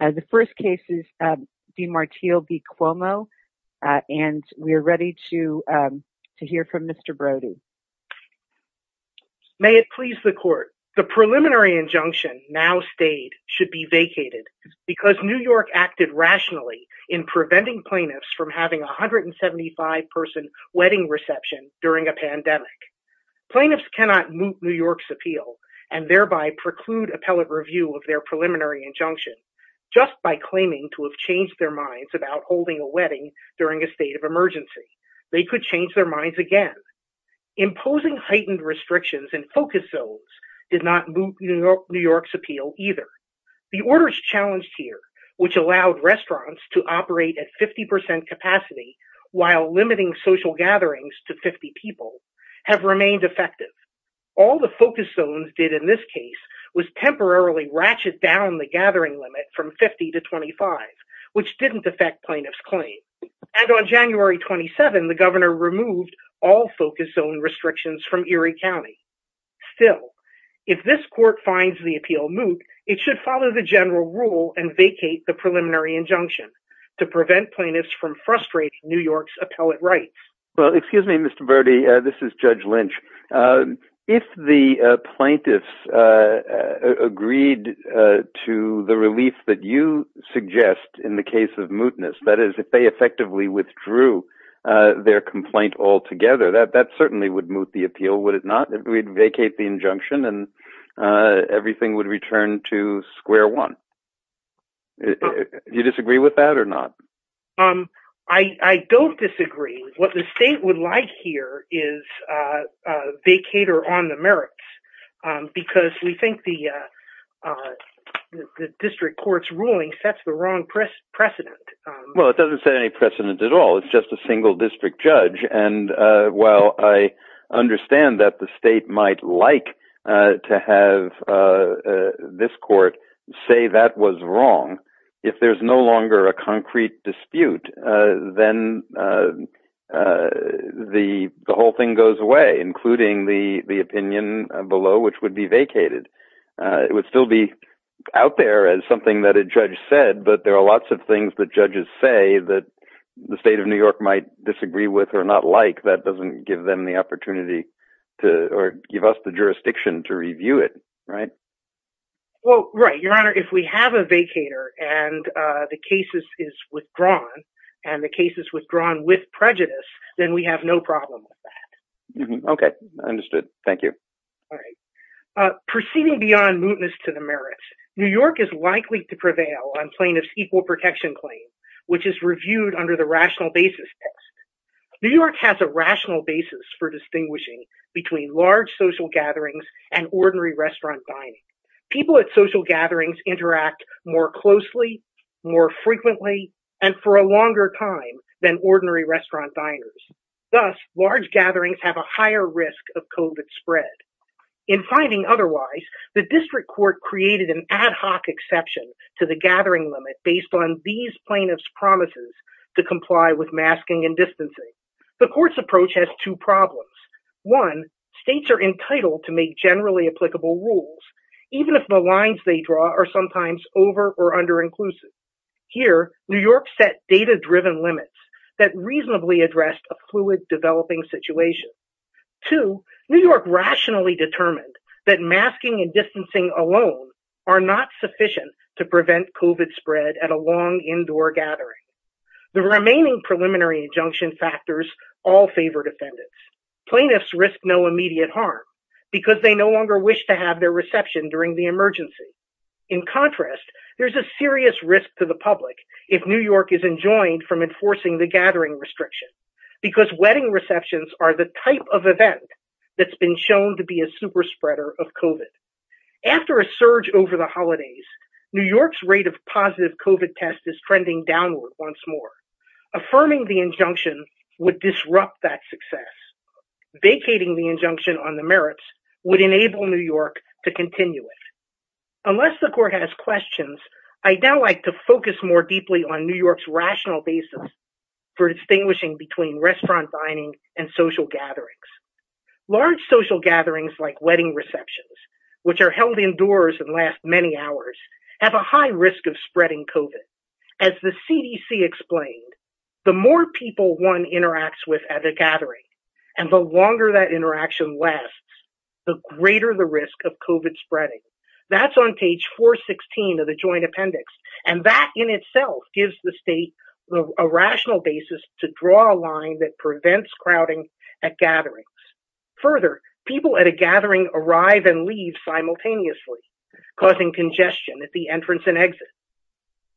The first case is v. Martile v. Cuomo, and we are ready to hear from Mr. Brody. May it please the Court, the preliminary injunction now stayed should be vacated because New York acted rationally in preventing plaintiffs from having a 175-person wedding reception during a pandemic. Plaintiffs cannot moot New York's appeal and thereby preclude appellate review of their Just by claiming to have changed their minds about holding a wedding during a state of emergency, they could change their minds again. Imposing heightened restrictions in focus zones did not moot New York's appeal either. The orders challenged here, which allowed restaurants to operate at 50% capacity while limiting social gatherings to 50 people, have remained effective. All the focus zones did in this case was temporarily ratchet down the gathering limit from 50 to 25, which didn't affect plaintiffs' claim. And on January 27, the governor removed all focus zone restrictions from Erie County. Still, if this Court finds the appeal moot, it should follow the general rule and vacate the preliminary injunction to prevent plaintiffs from frustrating New York's appellate rights. Well, excuse me, Mr. Burdi, this is Judge Lynch. If the plaintiffs agreed to the relief that you suggest in the case of mootness, that is, if they effectively withdrew their complaint altogether, that certainly would moot the appeal, would it not? We'd vacate the injunction and everything would return to square one. You disagree with that or not? I don't disagree. What the state would like here is they cater on the merits, because we think the district court's ruling sets the wrong precedent. Well, it doesn't set any precedent at all. It's just a single district judge. And while I understand that the state might like to have this court say that was wrong, if there's no longer a concrete dispute, then the whole thing goes away, including the opinion below, which would be vacated. It would still be out there as something that a judge said, but there are lots of things that judges say that the state of New York might disagree with or not like. That doesn't give them the opportunity to, or give us the jurisdiction to review it, right? Well, right. Your Honor, if we have a vacater and the case is withdrawn, and the case is withdrawn with prejudice, then we have no problem with that. Okay. Understood. Thank you. All right. Proceeding beyond mootness to the merits, New York is likely to prevail on plaintiff's equal protection claim, which is reviewed under the rational basis test. New York has a rational basis for distinguishing between large social gatherings and ordinary restaurant dining. People at social gatherings interact more closely, more frequently, and for a longer time than ordinary restaurant diners. Thus, large gatherings have a higher risk of COVID spread. In finding otherwise, the district court created an ad hoc exception to the gathering limit based on these plaintiff's promises to comply with masking and distancing. The court's approach has two problems. One, states are entitled to make generally applicable rules, even if the lines they draw are sometimes over or under inclusive. Here, New York set data-driven limits that reasonably addressed a fluid developing situation. Two, New York rationally determined that masking and distancing alone are not sufficient to prevent COVID spread at a long indoor gathering. The remaining preliminary injunction factors all favor defendants. Plaintiffs risk no immediate harm because they no longer wish to have their reception during the emergency. In contrast, there's a serious risk to the public if New York is enjoined from enforcing the gathering restriction because wedding receptions are the type of event that's been shown to be a super spreader of COVID. After a surge over the holidays, New York's rate of positive COVID test is trending downward once more. Affirming the injunction would disrupt that success. Vacating the injunction on the merits would enable New York to continue it. Unless the court has questions, I'd now like to focus more deeply on New York's rational basis for distinguishing between restaurant dining and social gatherings. Large social gatherings like wedding receptions, which are held indoors and last many hours, have a high risk of spreading COVID. As the CDC explained, the more people one interacts with at a gathering, and the longer that interaction lasts, the greater the risk of COVID spreading. That's on page 416 of the Joint Appendix, and that in itself gives the state a rational basis to draw a line that prevents crowding at gatherings. Further, people at a gathering arrive and leave simultaneously, causing congestion at the entrance and exit.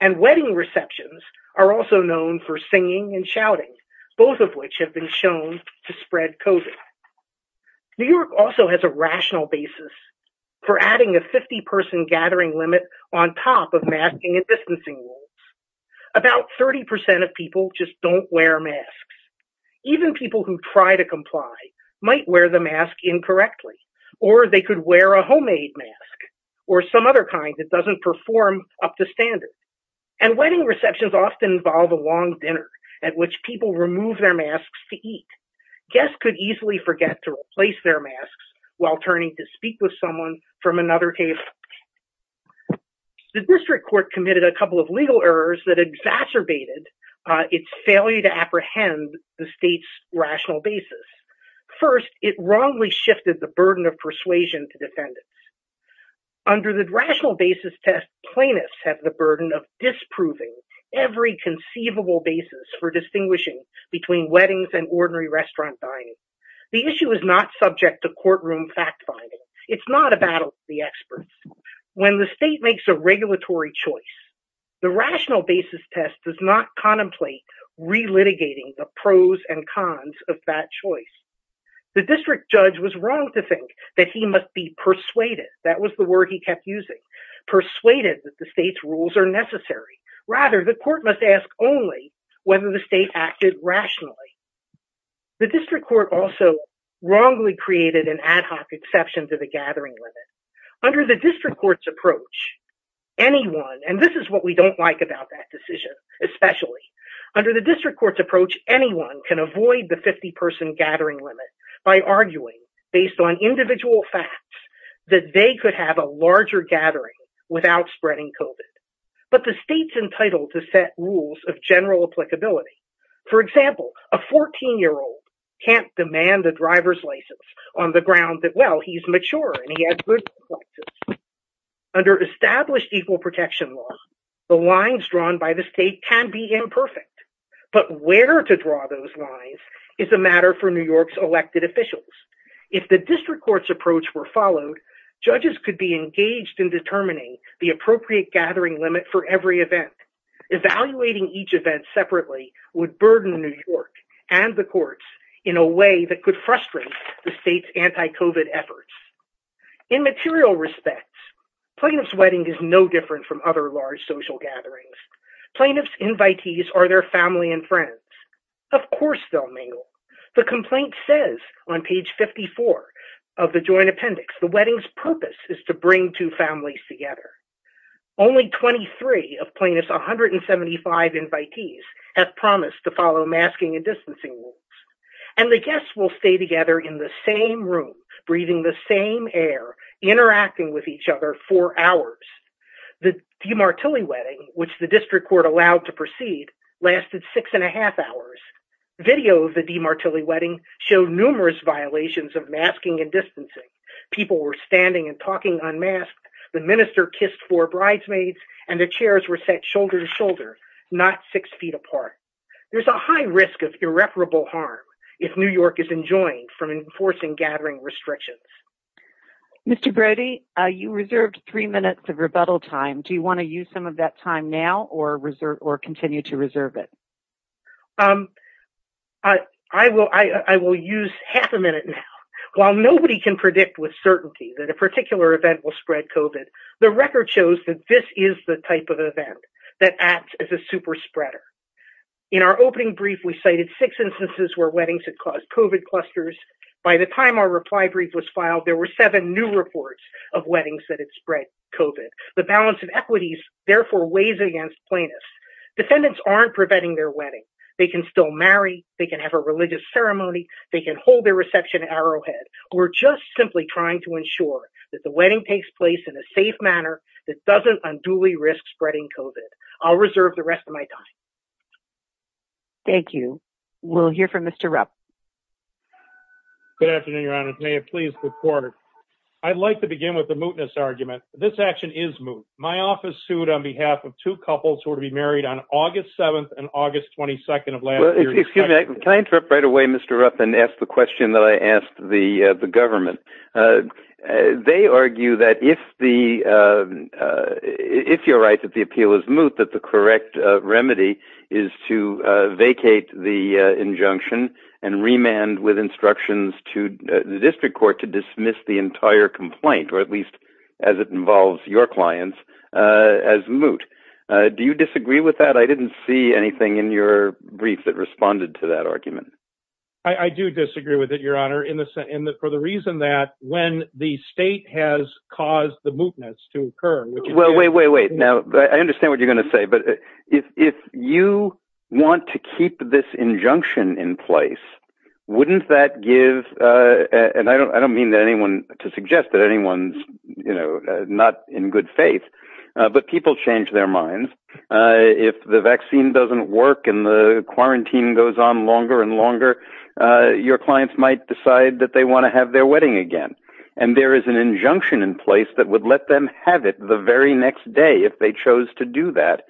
And wedding receptions are also known for singing and shouting, both of which have been shown to spread COVID. New York also has a rational basis for adding a 50-person gathering limit on top of masking and distancing rules. About 30% of people just don't wear masks. Even people who try to comply might wear the mask incorrectly, or they could wear a homemade mask or some other kind that doesn't perform up to standard. And wedding receptions often involve a long dinner at which people remove their masks to eat. Guests could easily forget to replace their masks while turning to speak with someone from another case. The district court committed a couple of legal errors that exacerbated its failure to apprehend the state's rational basis. First, it wrongly shifted the burden of persuasion to defendants. Under the rational basis test, plaintiffs have the burden of disproving every conceivable basis for distinguishing between weddings and ordinary restaurant dining. The issue is not subject to courtroom fact-finding. It's not a battle of the experts. When the state makes a regulatory choice, the rational basis test does not contemplate relitigating the pros and cons of that choice. The district judge was wrong to think that he must be persuaded, that was the word he kept using, persuaded that the state's rules are necessary. Rather, the court must ask only whether the state acted rationally. The district court also wrongly created an ad hoc exception to the gathering limit. Under the district court's approach, anyone, and this is what we don't like about that the district court's approach, anyone can avoid the 50-person gathering limit by arguing based on individual facts that they could have a larger gathering without spreading COVID. But the state's entitled to set rules of general applicability. For example, a 14-year-old can't demand a driver's license on the ground that, well, he's mature and he has good reflexes. Under established equal protection law, the lines drawn by the state can be imperfect. But where to draw those lines is a matter for New York's elected officials. If the district court's approach were followed, judges could be engaged in determining the appropriate gathering limit for every event. Evaluating each event separately would burden New York and the courts in a way that could frustrate the state's anti-COVID efforts. In material respects, plaintiff's wedding is no different from other large social gatherings. Plaintiff's invitees are their family and friends. Of course they'll mingle. The complaint says on page 54 of the joint appendix, the wedding's purpose is to bring two families together. Only 23 of plaintiff's 175 invitees have promised to follow masking and distancing And the guests will stay together in the same room, breathing the same air, interacting with each other for hours. The DiMartulli wedding, which the district court allowed to proceed, lasted six and a half hours. Video of the DiMartulli wedding showed numerous violations of masking and distancing. People were standing and talking unmasked, the minister kissed four bridesmaids, and the chairs were set shoulder to shoulder, not six feet apart. There's a high risk of irreparable harm if New York is enjoined from enforcing gathering restrictions. Mr. Brody, you reserved three minutes of rebuttal time. Do you want to use some of that time now or continue to reserve it? I will use half a minute now. While nobody can predict with certainty that a particular event will spread COVID, the In our opening brief, we cited six instances where weddings had caused COVID clusters. By the time our reply brief was filed, there were seven new reports of weddings that had spread COVID. The balance of equities therefore weighs against plaintiffs. Defendants aren't preventing their wedding. They can still marry, they can have a religious ceremony, they can hold their reception arrowhead. We're just simply trying to ensure that the wedding takes place in a safe manner that doesn't unduly risk spreading COVID. I'll reserve the rest of my time. Thank you. We'll hear from Mr. Rupp. Good afternoon, Your Honor. May it please the court. I'd like to begin with the mootness argument. This action is moot. My office sued on behalf of two couples who were to be married on August 7th and August 22nd of last year. Excuse me. Can I interrupt right away, Mr. Rupp, and ask the question that I asked the government? They argue that if you're right that the appeal is moot, that the correct remedy is to vacate the injunction and remand with instructions to the district court to dismiss the entire complaint, or at least as it involves your clients, as moot. Do you disagree with that? I didn't see anything in your brief that responded to that argument. I do disagree with it, Your Honor. For the reason that when the state has caused the mootness to occur, which is- Wait, wait, wait. Now, I understand what you're going to say, but if you want to keep this injunction in place, wouldn't that give, and I don't mean to suggest that anyone's not in good faith, but people change their minds. If the vaccine doesn't work and the quarantine goes on longer and longer, your clients might decide that they want to have their wedding again, and there is an injunction in place that would let them have it the very next day if they chose to do that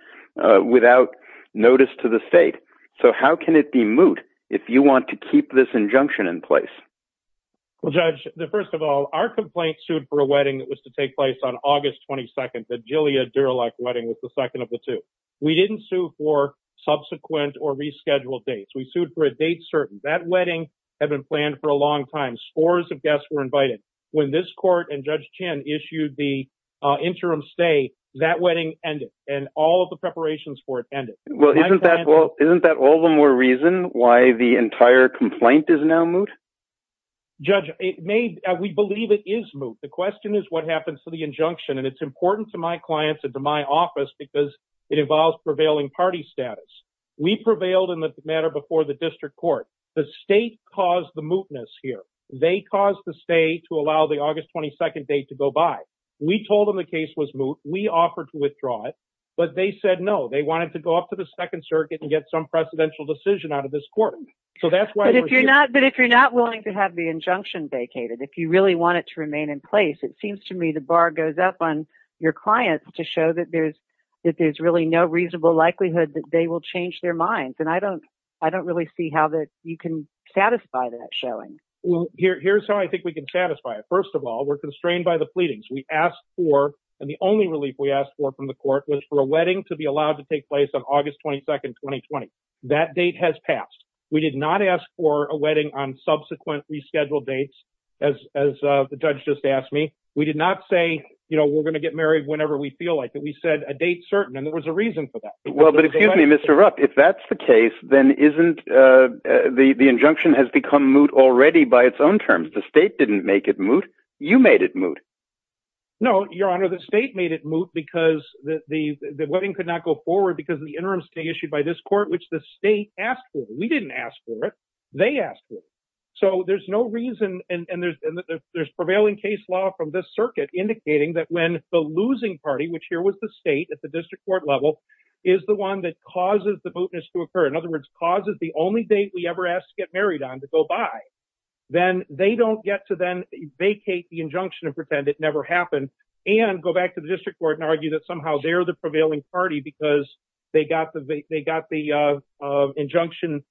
without notice to the state. So, how can it be moot if you want to keep this injunction in place? Well, Judge, first of all, our complaint sued for a wedding that was to take place on August 22nd. The Julia Durelock wedding was the second of the two. We didn't sue for subsequent or rescheduled dates. We sued for a date certain. That wedding had been planned for a long time. Scores of guests were invited. When this court and Judge Chin issued the interim stay, that wedding ended, and all of the preparations for it ended. Well, isn't that all the more reason why the entire complaint is now moot? Judge, we believe it is moot. The question is what happens to the injunction, and it's important to my clients and to my office because it involves prevailing party status. We prevailed in the matter before the district court. The state caused the mootness here. They caused the state to allow the August 22nd date to go by. We told them the case was moot. We offered to withdraw it, but they said no. They wanted to go off to the Second Circuit and get some presidential decision out of this court. So that's why we're here. But if you're not willing to have the injunction vacated, if you really want it to remain in place, it seems to me the bar goes up on your clients to show that there's really no reasonable likelihood that they will change their minds, and I don't really see how you can satisfy that showing. Well, here's how I think we can satisfy it. First of all, we're constrained by the pleadings. We asked for, and the only relief we asked for from the court was for a wedding to be allowed to take place on August 22nd, 2020. That date has passed. We did not ask for a wedding on subsequent rescheduled dates, as the judge just asked me. We did not say, you know, we're going to get married whenever we feel like it. We said a date certain, and there was a reason for that. Well, but excuse me, Mr. Rupp, if that's the case, then isn't the injunction has become moot already by its own terms. The state didn't make it moot. You made it moot. No, Your Honor, the state made it moot because the wedding could not go forward because of the interim stay issued by this court, which the state asked for. We didn't ask for it. They asked for it. So there's no reason, and there's prevailing case law from this circuit indicating that when the losing party, which here was the state at the district court level, is the one that causes the mootness to occur, in other words, causes the only date we ever asked to get married on to go by, then they don't get to then vacate the injunction and pretend it never happened and go back to the district court and argue that somehow they're the prevailing party because they got the injunction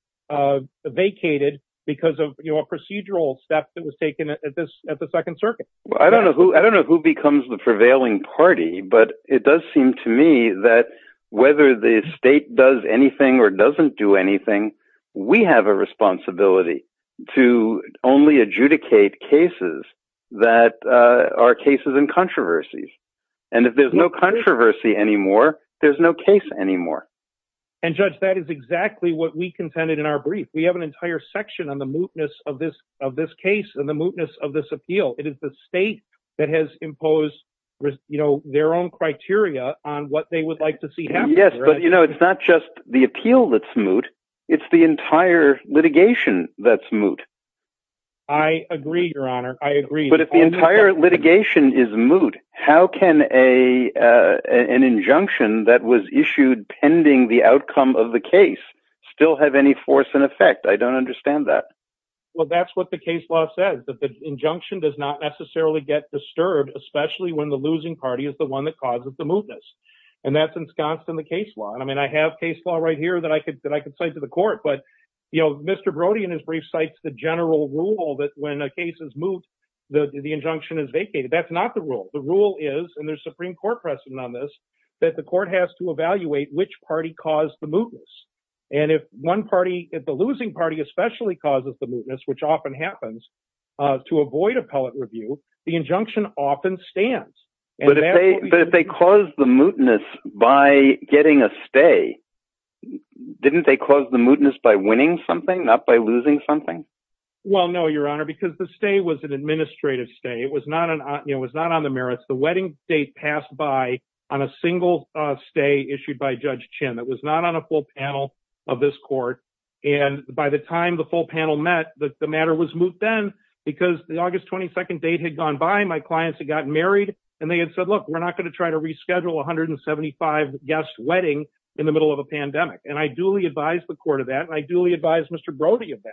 vacated because of a procedural step that was taken at the Second Circuit. I don't know who becomes the prevailing party, but it does seem to me that whether the state does anything or doesn't do anything, we have a responsibility to only adjudicate cases that are cases in controversies. And if there's no controversy anymore, there's no case anymore. And Judge, that is exactly what we contended in our brief. We have an entire section on the mootness of this case and the mootness of this appeal. It is the state that has imposed their own criteria on what they would like to see happen. Yes, but you know, it's not just the appeal that's moot. It's the entire litigation that's moot. I agree, Your Honor. I agree. But if the entire litigation is moot, how can an injunction that was issued pending the outcome of the case still have any force and effect? I don't understand that. Well, that's what the case law says, that the injunction does not necessarily get disturbed, especially when the losing party is the one that causes the mootness. And that's ensconced in the case law. And I mean, I have case law right here that I could say to the court. But, you know, Mr. Brody, in his brief, cites the general rule that when a case is moot, the injunction is vacated. That's not the rule. The rule is, and there's Supreme Court precedent on this, that the court has to evaluate which party caused the mootness. And if one party, if the losing party especially causes the mootness, which often happens to avoid appellate review, the injunction often stands. But if they caused the mootness by getting a stay, didn't they cause the mootness by winning something, not by losing something? Well, no, Your Honor, because the stay was an administrative stay. It was not on the merits. The wedding date passed by on a single stay issued by Judge Chin. It was not on a full panel of this court. And by the time the full panel met, the matter was moot then because the August 22nd date had gone by. My clients had gotten married and they had said, look, we're not going to try to reschedule 175 guest wedding in the middle of a pandemic. And I duly advised the court of that. I duly advised Mr. Brody of that.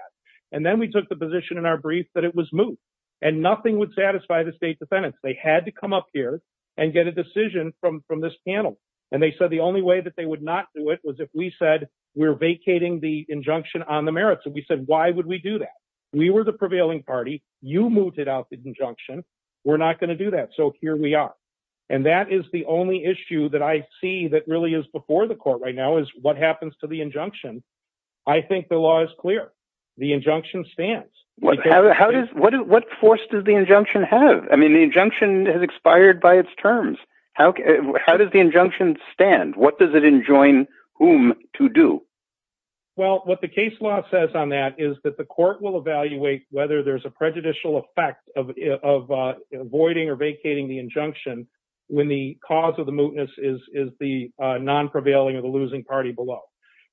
And then we took the position in our brief that it was moot and nothing would satisfy the state defendants. They had to come up here and get a decision from from this panel. And they said the only way that they would not do it was if we said we're vacating the injunction on the merits. And we said, why would we do that? We were the prevailing party. You moved it out the injunction. We're not going to do that. So here we are. And that is the only issue that I see that really is before the court right now is what happens to the injunction. I think the law is clear. The injunction stands. How does what force does the injunction have? I mean, the injunction has expired by its terms. How does the injunction stand? What does it enjoin whom to do? Well, what the case law says on that is that the court will evaluate whether there's a prejudicial effect of avoiding or vacating the injunction when the cause of the mootness is is the non prevailing or the losing party below.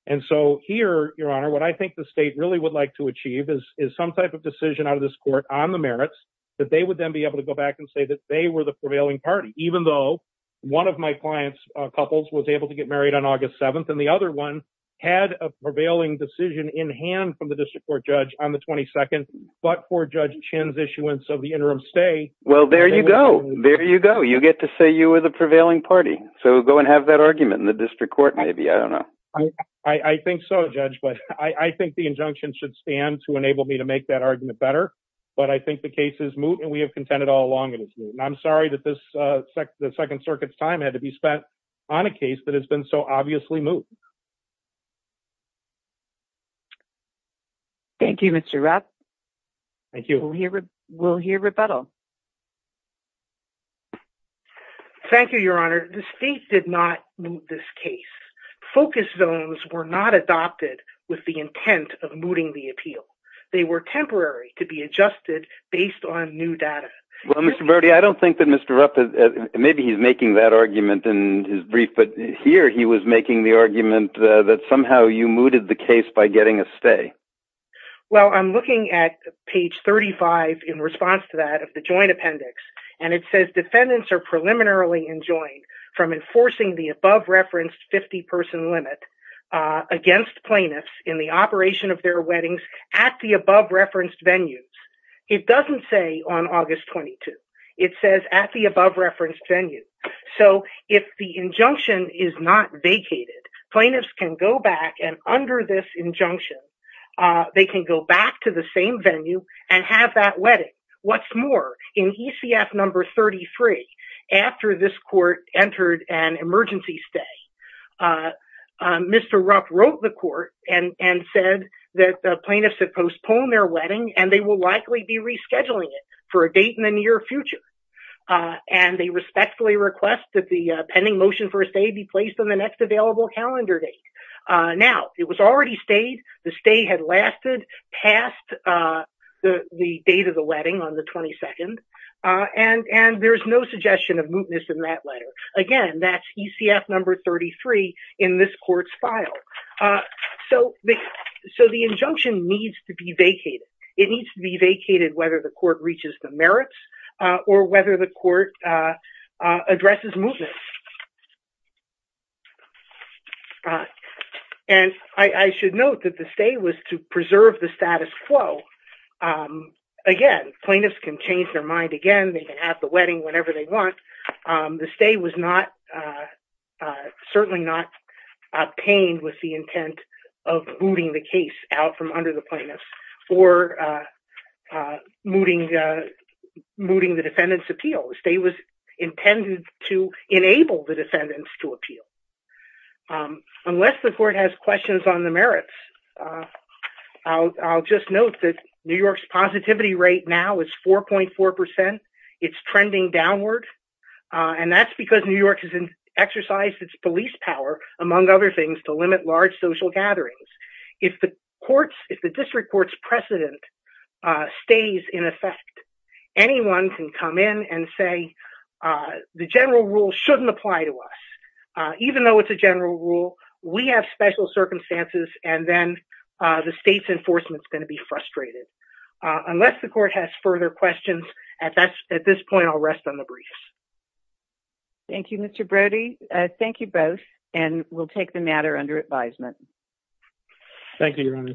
And so here, Your Honor, what I think the state really would like to achieve is is some type of decision out of this court on the merits that they would then be able to go even though one of my clients couples was able to get married on August 7th and the other one had a prevailing decision in hand from the district court judge on the 22nd. But for Judge Chin's issuance of the interim stay. Well, there you go. There you go. You get to say you were the prevailing party. So go and have that argument in the district court. Maybe I don't know. I think so, Judge. But I think the injunction should stand to enable me to make that argument better. But I think the case is moot and we have contended all along. And I'm sorry that this the Second Circuit's time had to be spent on a case that has been so obviously moot. Thank you, Mr. Rapp. Thank you. We'll hear rebuttal. Thank you, Your Honor. The state did not move this case. Focus zones were not adopted with the intent of mooting the appeal. They were temporary to be adjusted based on new data. Well, Mr. Burdi, I don't think that Mr. Rapp, maybe he's making that argument in his brief, but here he was making the argument that somehow you mooted the case by getting a stay. Well, I'm looking at page 35 in response to that of the joint appendix, and it says defendants are preliminarily enjoined from enforcing the above-referenced 50-person limit against plaintiffs in the operation of their weddings at the above-referenced venues. It doesn't say on August 22. It says at the above-referenced venue. So if the injunction is not vacated, plaintiffs can go back and under this injunction, they can go back to the same venue and have that wedding. What's more, in ECF number 33, after this court entered an emergency stay, Mr. Rapp said that the plaintiffs have postponed their wedding and they will likely be rescheduling it for a date in the near future. And they respectfully request that the pending motion for a stay be placed on the next available calendar date. Now, it was already stayed. The stay had lasted past the date of the wedding on the 22nd. And there's no suggestion of mootness in that letter. Again, that's ECF number 33 in this court's file. So the injunction needs to be vacated. It needs to be vacated whether the court reaches the merits or whether the court addresses mootness. And I should note that the stay was to preserve the status quo. Again, plaintiffs can change their mind again. They can have the wedding whenever they want. The stay was certainly not obtained with the intent of mooting the case out from under the plaintiffs or mooting the defendant's appeal. The stay was intended to enable the defendants to appeal. Unless the court has questions on the merits, I'll just note that New York's positivity rate now is 4.4 percent. It's trending downward. And that's because New York has exercised its police power, among other things, to limit large social gatherings. If the court's, if the district court's precedent stays in effect, anyone can come in and say the general rule shouldn't apply to us, even though it's a general rule. We have special circumstances. And then the state's enforcement is going to be frustrated. Unless the court has further questions at this point, I'll rest on the briefs. Thank you, Mr. Brody. Thank you both. And we'll take the matter under advisement. Thank you, Your Honor.